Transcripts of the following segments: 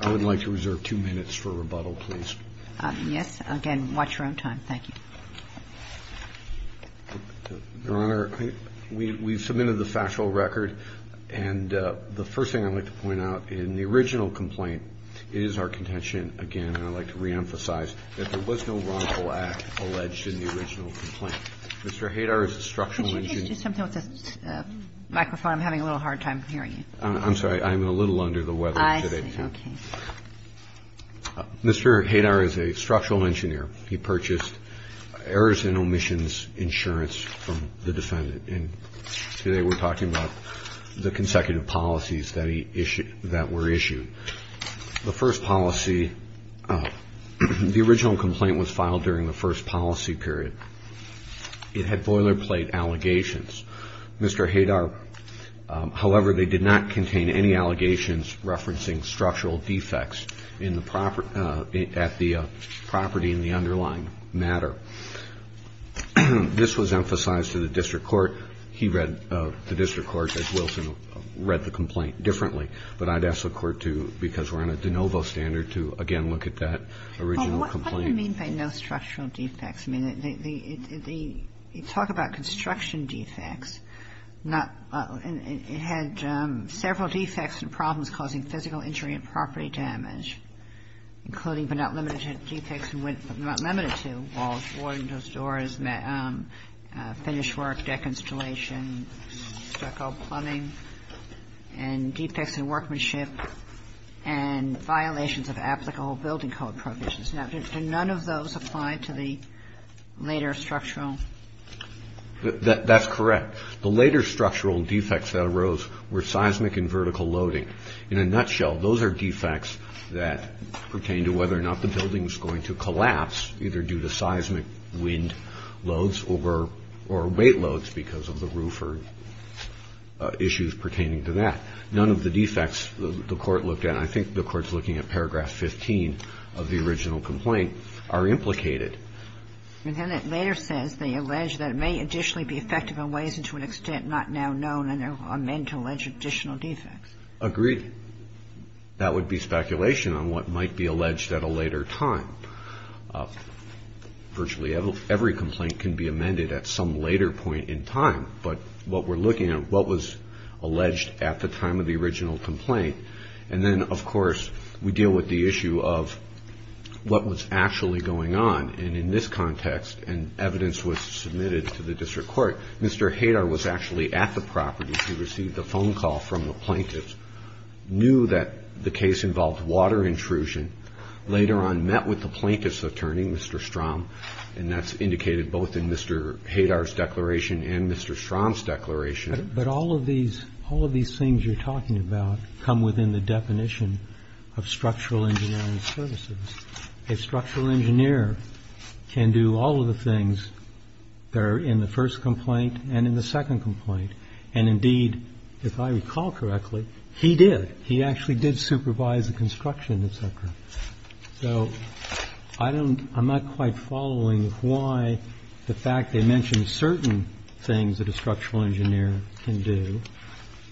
I would like to reserve two minutes for rebuttal, please. Yes, again, watch your own time, thank you. Your Honor, we submitted the factual record, and the first thing I'd like to point out in the original complaint is our contention, again, and I'd like to reemphasize that there was no wrongful act alleged in the original complaint. Mr. Hadar is a structural engineer. He purchased errors and omissions insurance from the defendant, and today we're talking about the consecutive policies that he issued, that were issued. The first policy, the original complaint was filed during the first policy period. It had boilerplate allegations. Mr. Hadar, however, they did not contain any allegations referencing structural defects in the property, at the property in the underlying matter. This was emphasized to the district court. He read the district court, as Wilson read the complaint, differently, but I'd ask the Court to, because we're on a de novo standard, to, again, look at that original complaint. What do you mean by no structural defects? I mean, they talk about construction defects, and it had several defects and problems causing physical injury and property damage, including, but not limited to, defects in windows, doors, finish work, deck installation, stucco plumbing, and defects in workmanship and violations of applicable building code provisions. Now, did none of those apply to the later structural? That's correct. The later structural defects that arose were seismic and vertical loading. In a nutshell, those are defects that pertain to whether or not the building was going to collapse, either due to seismic wind loads or weight loads because of the roofer issues pertaining to that. None of the defects the Court looked at, and I think the Court's looking at paragraph 15 of the original complaint, are implicated. And then it later says they allege that it may additionally be effective in ways and to an extent not now known, and they'll amend to allege additional defects. Agreed. That would be speculation on what might be alleged at a later time. Virtually every complaint can be amended at some later point in time, but what we're looking at, what was alleged at the time of the original complaint, and then, of course, we deal with the issue of what was actually going on. And in this context, and evidence was submitted to the District Court, Mr. Hadar was actually at the property to receive the phone call from the plaintiffs, knew that the case involved water intrusion, later on met with the plaintiff's attorney, Mr. Strom, and that's indicated both in Mr. Hadar's declaration and Mr. Strom's declaration. But all of these things you're talking about come within the definition of structural engineering services. A structural engineer can do all of the things that are in the first complaint and in the second complaint. And, indeed, if I recall correctly, he did. So I don't, I'm not quite following why the fact they mentioned certain things that a structural engineer can do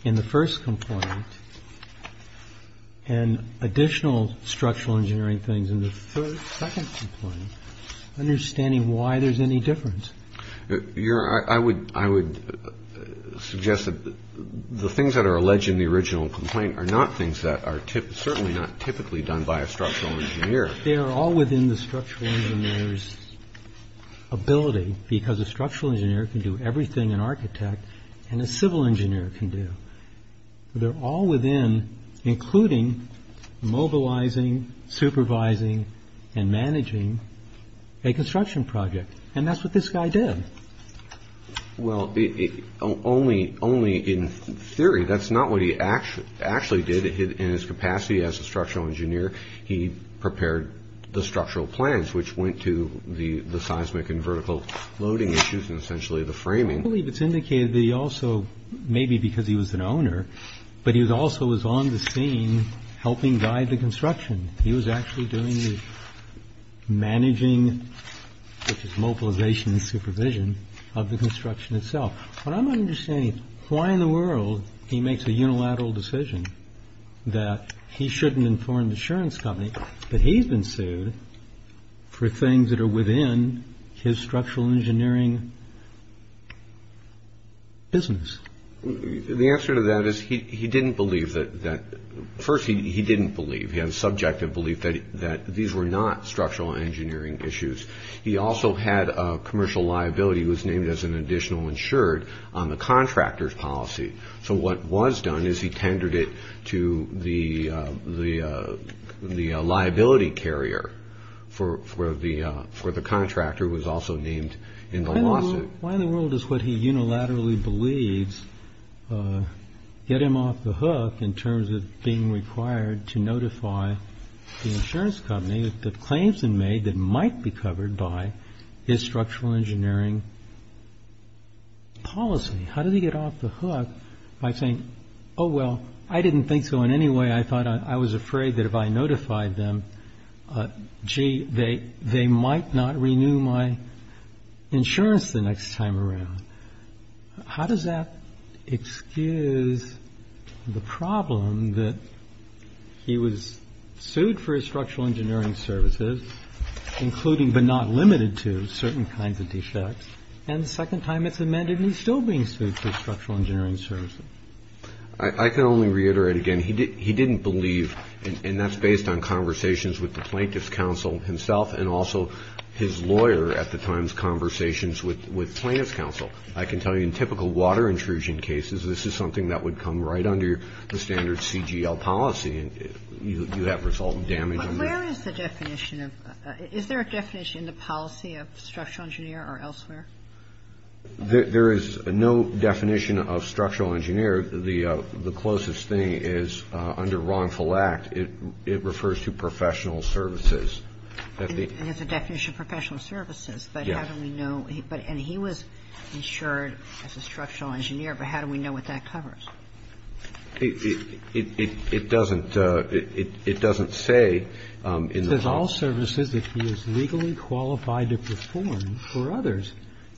in the first complaint and additional structural engineering things in the second complaint, understanding why there's any difference. Your, I would, I would suggest that the things that are alleged in the original complaint are not things that are certainly not typically done by a structural engineer. They are all within the structural engineer's ability because a structural engineer can do everything an architect and a civil engineer can do. They're all within including mobilizing, supervising, and managing a construction project. And that's what this guy did. Well, only in theory. That's not what he actually did in his capacity as a structural engineer. He prepared the structural plans, which went to the seismic and vertical loading issues and essentially the framing. I believe it's indicated that he also, maybe because he was an owner, but he also was on the scene helping guide the construction. He was actually doing the managing, which is mobilization and supervision, of the construction itself. But I'm understanding why in the world he makes a unilateral decision that he shouldn't inform the insurance company that he's been sued for things that are within his structural engineering business. The answer to that is he didn't believe that. First, he didn't believe. He had a subjective belief that these were not structural engineering issues. He also had a commercial liability. It was named as an additional insured on the contractor's policy. So what was done is he tendered it to the liability carrier for the contractor, who was also named in the lawsuit. Why in the world does what he unilaterally believes get him off the hook in terms of being required to notify the insurance company that claims have been made that might be covered by his structural engineering policy? How did he get off the hook by saying, oh, well, I didn't think so in any way. I thought I was afraid that if I notified them, gee, they might not renew my insurance the next time around. How does that excuse the problem that he was sued for his structural engineering services, including but not limited to certain kinds of defects, and the second time it's amended and he's still being sued for structural engineering services? I can only reiterate again, he didn't believe, and that's based on conversations with the plaintiff's counsel himself and also his lawyer at the time's conversations with plaintiff's counsel. I can tell you in typical water intrusion cases, this is something that would come right under the standard CGL policy and you have resultant damage. Where is the definition of, is there a definition in the policy of structural engineer or elsewhere? There is no definition of structural engineer. The closest thing is under wrongful act, it refers to professional services. And there's a definition of professional services, but how do we know? And he was insured as a structural engineer, but how do we know what that covers? It doesn't say in the policy. I can only say that based on the facts of what was going on, that he was insured as a structural engineer, but I can't say that based on the facts of what was going on, that he was legally qualified to perform all the services that he was legally qualified to perform for others.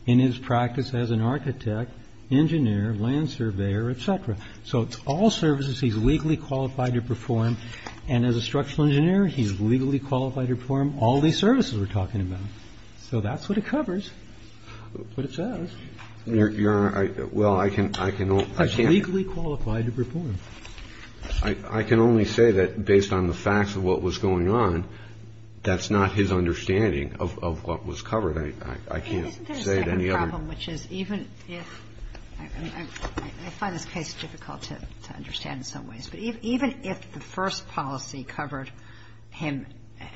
In his practice as an architect, engineer, land surveyor, et cetera. And as a structural engineer, he's legally qualified to perform all these services we're talking about. So that's what it covers, what it says. Your Honor, well, I can't. Legally qualified to perform. I can only say that based on the facts of what was going on, that's not his understanding of what was covered. I can't say it any other way. I find this case difficult to understand in some ways. But even if the first policy covered him,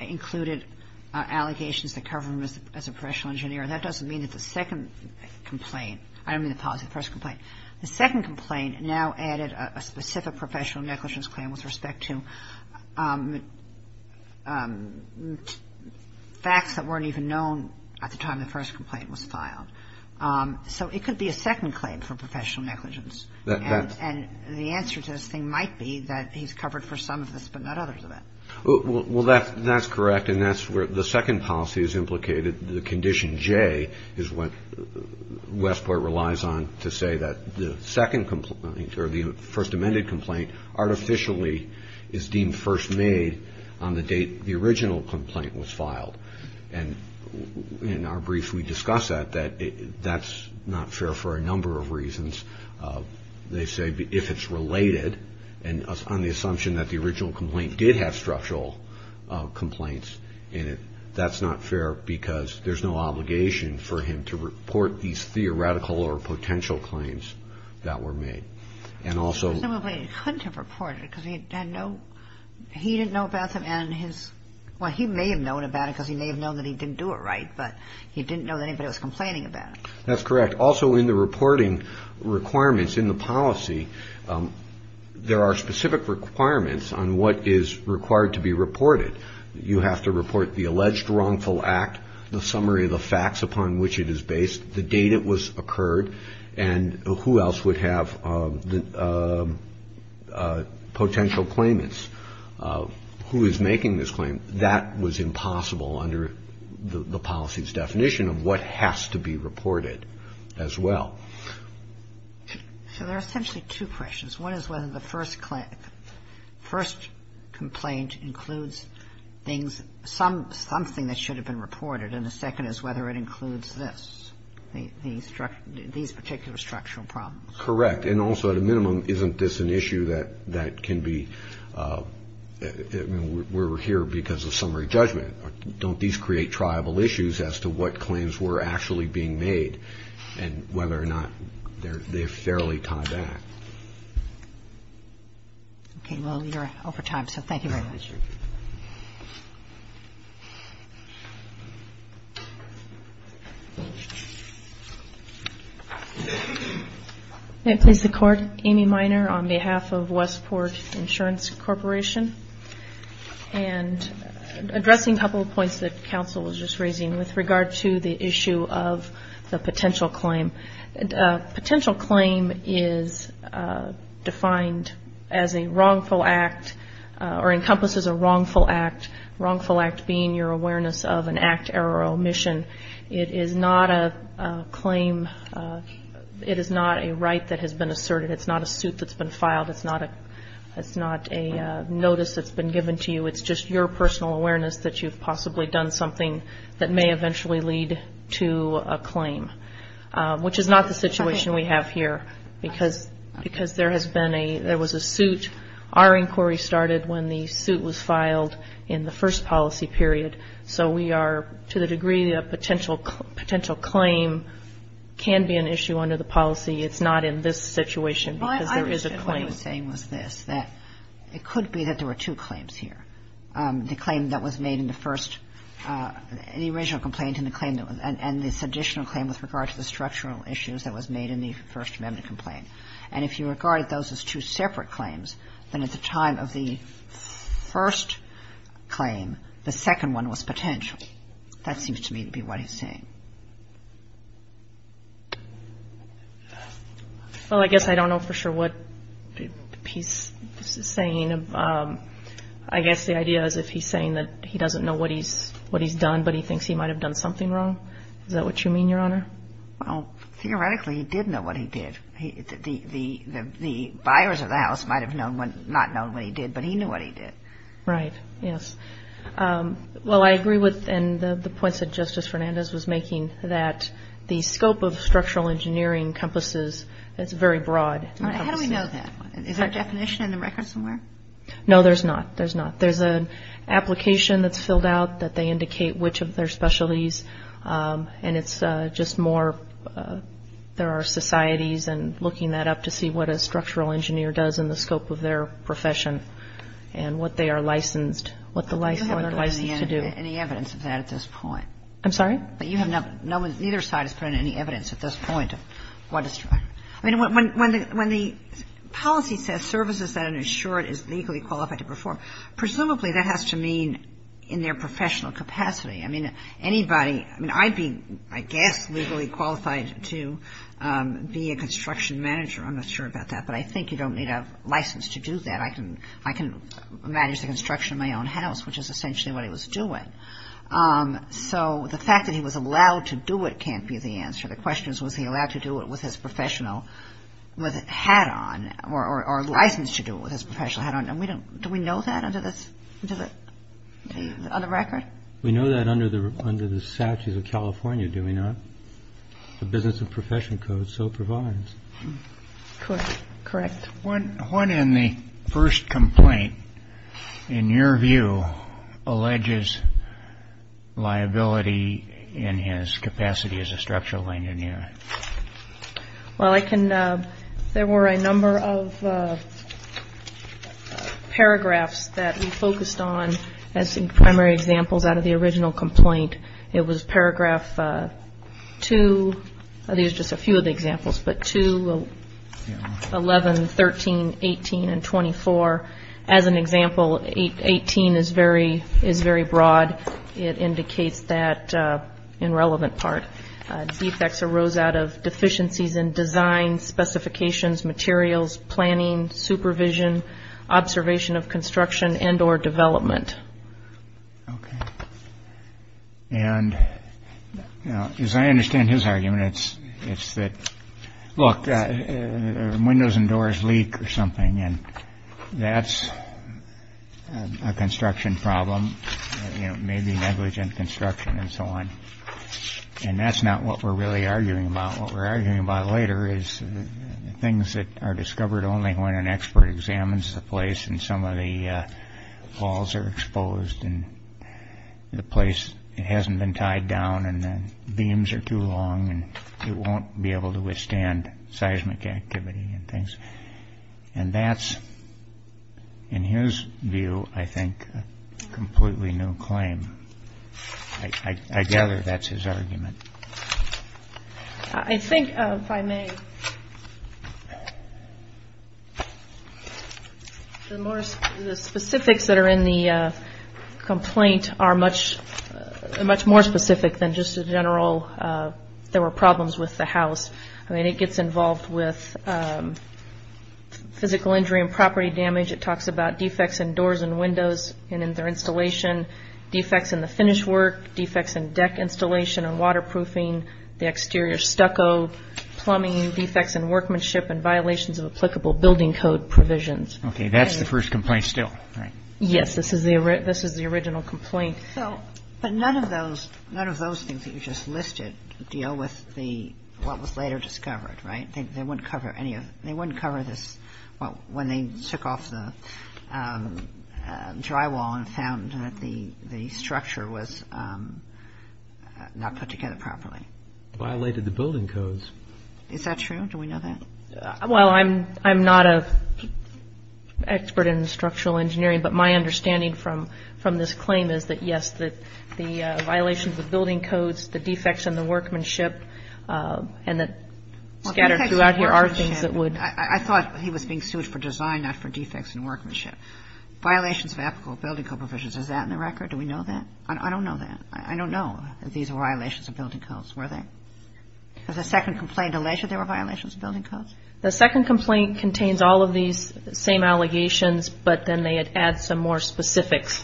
included allegations that covered him as a professional engineer, that doesn't mean that the second complaint, I don't mean the policy, the first complaint. The second complaint now added a specific professional negligence claim with respect to facts that weren't even known at the time the first complaint was filed. So it could be a second claim for professional negligence. And the answer to this thing might be that he's covered for some of this but not others of it. Well, that's correct. And that's where the second policy is implicated. The condition J is what Westport relies on to say that the second complaint or the first amended complaint artificially is deemed first made on the date the original complaint was filed. And in our brief we discuss that. That's not fair for a number of reasons. They say if it's related and on the assumption that the original complaint did have structural complaints in it, that's not fair because there's no obligation for him to report these theoretical or potential claims that were made. And also... He may have known that he didn't do it right, but he didn't know that anybody was complaining about it. That's correct. Also in the reporting requirements in the policy, there are specific requirements on what is required to be reported. You have to report the alleged wrongful act, the summary of the facts upon which it is based, the date it was occurred, and who else would have potential claimants, who is making this claim. And that was impossible under the policy's definition of what has to be reported as well. So there are essentially two questions. One is whether the first complaint includes things, something that should have been reported. And the second is whether it includes this, these particular structural problems. Correct. And also at a minimum, isn't this an issue that can be... We're here because of summary judgment. Don't these create tribal issues as to what claims were actually being made and whether or not they're fairly tied back? Okay, well, you're over time, so thank you very much. Thank you. May it please the Court, Amy Minor on behalf of Westport Insurance Corporation. And addressing a couple of points that counsel was just raising with regard to the issue of the potential claim. Potential claim is defined as a wrongful act or encompasses a wrongful act. Wrongful act being your awareness of an act, error, or omission. It is not a claim, it is not a right that has been asserted. It's not a suit that's been filed. It's not a notice that's been given to you. It's just your personal awareness that you've possibly done something that may eventually lead to a claim. Which is not the situation we have here because there has been a, there was a suit. Our inquiry started when the suit was filed in the first policy period. So we are to the degree that a potential claim can be an issue under the policy. It's not in this situation because there is a claim. What he was saying was this, that it could be that there were two claims here. The claim that was made in the first, the original complaint and the claim that was, and this additional claim with regard to the structural issues that was made in the First Amendment complaint. And if you regard those as two separate claims, then at the time of the first claim, the second one was potential. That seems to me to be what he's saying. Well, I guess I don't know for sure what he's saying. I guess the idea is if he's saying that he doesn't know what he's done, but he thinks he might have done something wrong. Is that what you mean, Your Honor? Well, theoretically, he did know what he did. The buyers of the house might have not known what he did, but he knew what he did. Right. Yes. Well, I agree with the points that Justice Fernandez was making that the scope of structural engineering encompasses, it's very broad. How do we know that? Is there a definition in the record somewhere? No, there's not. There's not. There's an application that's filled out that they indicate which of their specialties, and it's just more there are societies and looking that up to see what a structural engineer does in the scope of their profession and what they are licensed, what they're licensed to do. You haven't put any evidence of that at this point. I'm sorry? Neither side has put in any evidence at this point of what a structural engineer does. I mean, when the policy says services that an insured is legally qualified to perform, presumably that has to mean in their professional capacity. I mean, anybody, I mean, I'd be, I guess, legally qualified to be a construction manager. I'm not sure about that, but I think you don't need a license to do that. I can manage the construction of my own house, which is essentially what he was doing. So the fact that he was allowed to do it can't be the answer. The question is, was he allowed to do it with his professional hat on or licensed to do it with his professional hat on? Do we know that under this, on the record? We know that under the statutes of California, do we not? The Business and Profession Code so provides. Correct. When in the first complaint, in your view, alleges liability in his capacity as a structural engineer? Well, I can, there were a number of paragraphs that we focused on as primary examples out of the original complaint. It was paragraph 2, there's just a few of the examples, but 2, 11, 13, 18, and 24. As an example, 18 is very broad. It indicates that, in relevant part, defects arose out of deficiencies in design, specifications, materials, planning, supervision, observation of construction, and or development. Okay. And as I understand his argument, it's that, look, windows and doors leak or something, and that's a construction problem, maybe negligent construction and so on. And that's not what we're really arguing about. What we're arguing about later is things that are discovered only when an expert examines the place and some of the walls are exposed and the place hasn't been tied down and the beams are too long and it won't be able to withstand seismic activity and things. And that's, in his view, I think, a completely new claim. I gather that's his argument. I think, if I may, the specifics that are in the complaint are much more specific than just a general, there were problems with the house. I mean, it gets involved with physical injury and property damage. It talks about defects in doors and windows and in their installation, defects in the finish work, defects in deck installation and waterproofing, the exterior stucco, plumbing, defects in workmanship, and violations of applicable building code provisions. Okay. That's the first complaint still, right? Yes. This is the original complaint. But none of those things that you just listed deal with what was later discovered, right? They wouldn't cover this when they took off the drywall and found that the structure was not put together properly. It violated the building codes. Is that true? Do we know that? Well, I'm not an expert in structural engineering, but my understanding from this claim is that, yes, the violations of building codes, the defects in the workmanship, and that scattered throughout here are things that would I thought he was being sued for design, not for defects in workmanship. Violations of applicable building code provisions. Is that in the record? Do we know that? I don't know that. I don't know that these were violations of building codes. Were they? Does the second complaint allege that they were violations of building codes? The second complaint contains all of these same allegations, but then they add some more specifics.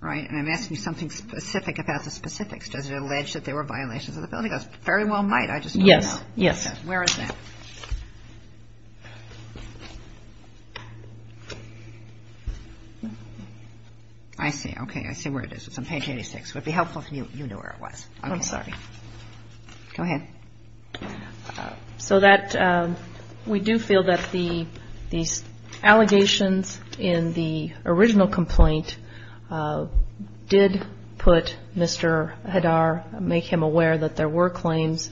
Right. And I'm asking you something specific about the specifics. Does it allege that they were violations of the building codes? Very well might. I just don't know. Yes. Yes. Where is that? I see. Okay. I see where it is. It's on page 86. It would be helpful if you knew where it was. I'm sorry. Go ahead. So that we do feel that these allegations in the original complaint did put Mr. Hadar, make him aware that there were claims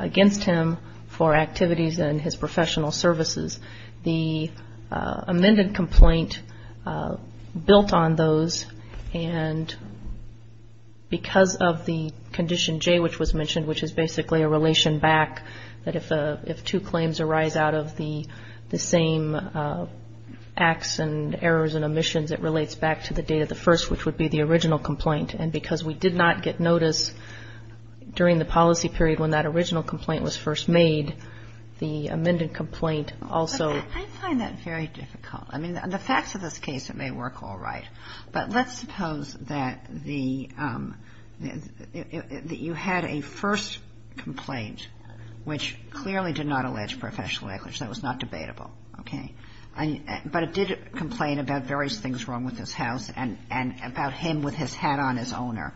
against him for activities in his professional services. The amended complaint built on those, and because of the condition J which was mentioned, which is basically a relation back that if two claims arise out of the same acts and errors and omissions, it relates back to the date of the first, which would be the original complaint. And because we did not get notice during the policy period when that original complaint was first made, the amended complaint also. I find that very difficult. I mean, the facts of this case, it may work all right. But let's suppose that you had a first complaint, which clearly did not allege professional negligence. That was not debatable. Okay. But it did complain about various things wrong with his house and about him with his hat on as owner,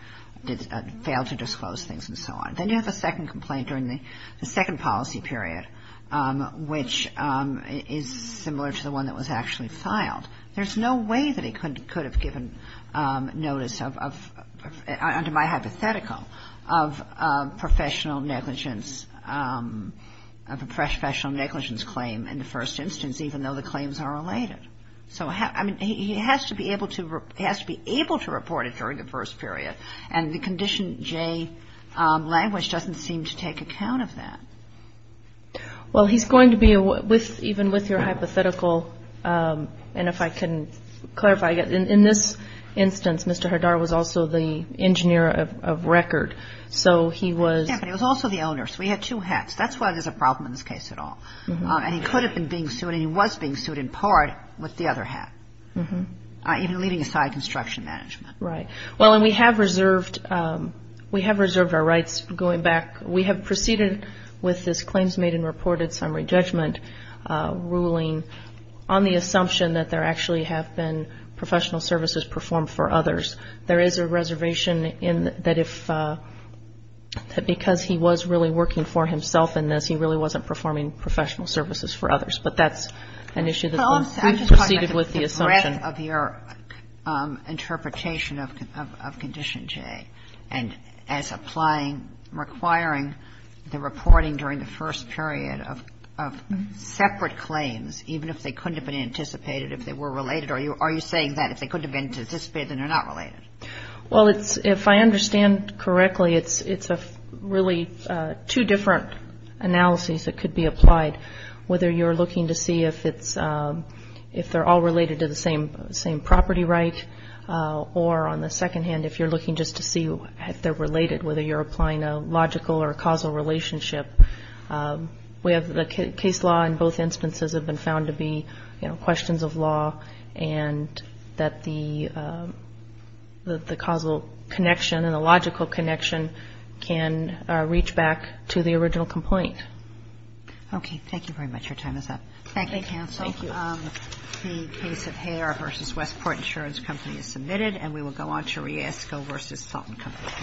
failed to disclose things and so on. Then you have a second complaint during the second policy period, which is similar to the one that was actually filed. There's no way that he could have given notice of, under my hypothetical, of professional negligence, of a professional negligence claim in the first instance, even though the claims are related. So, I mean, he has to be able to report it during the first period, and the condition J language doesn't seem to take account of that. Well, he's going to be, even with your hypothetical, and if I can clarify, in this instance, Mr. Hadar was also the engineer of record. So he was. Yeah, but he was also the owner. So we had two hats. That's why there's a problem in this case at all. And he could have been being sued, and he was being sued in part with the other hat, even leaving aside construction management. Right. Well, and we have reserved our rights going back. We have proceeded with this claims made and reported summary judgment ruling on the assumption that there actually have been professional services performed for others. There is a reservation in that if, because he was really working for himself in this, he really wasn't performing professional services for others. But that's an issue that's been preceded with the assumption. The breadth of your interpretation of condition J and as applying, requiring the reporting during the first period of separate claims, even if they couldn't have been anticipated, if they were related, are you saying that if they couldn't have been anticipated, then they're not related? Well, it's, if I understand correctly, it's really two different analyses that could be applied, whether you're looking to see if they're all related to the same property right, or on the second hand, if you're looking just to see if they're related, whether you're applying a logical or a causal relationship. The case law in both instances have been found to be questions of law and that the causal connection and the logical connection can reach back to the original complaint. Okay. Thank you very much. Your time is up. Thank you, counsel. Thank you. The case of Hare v. Westport Insurance Company is submitted, and we will go on to Riesco v. Salton Company.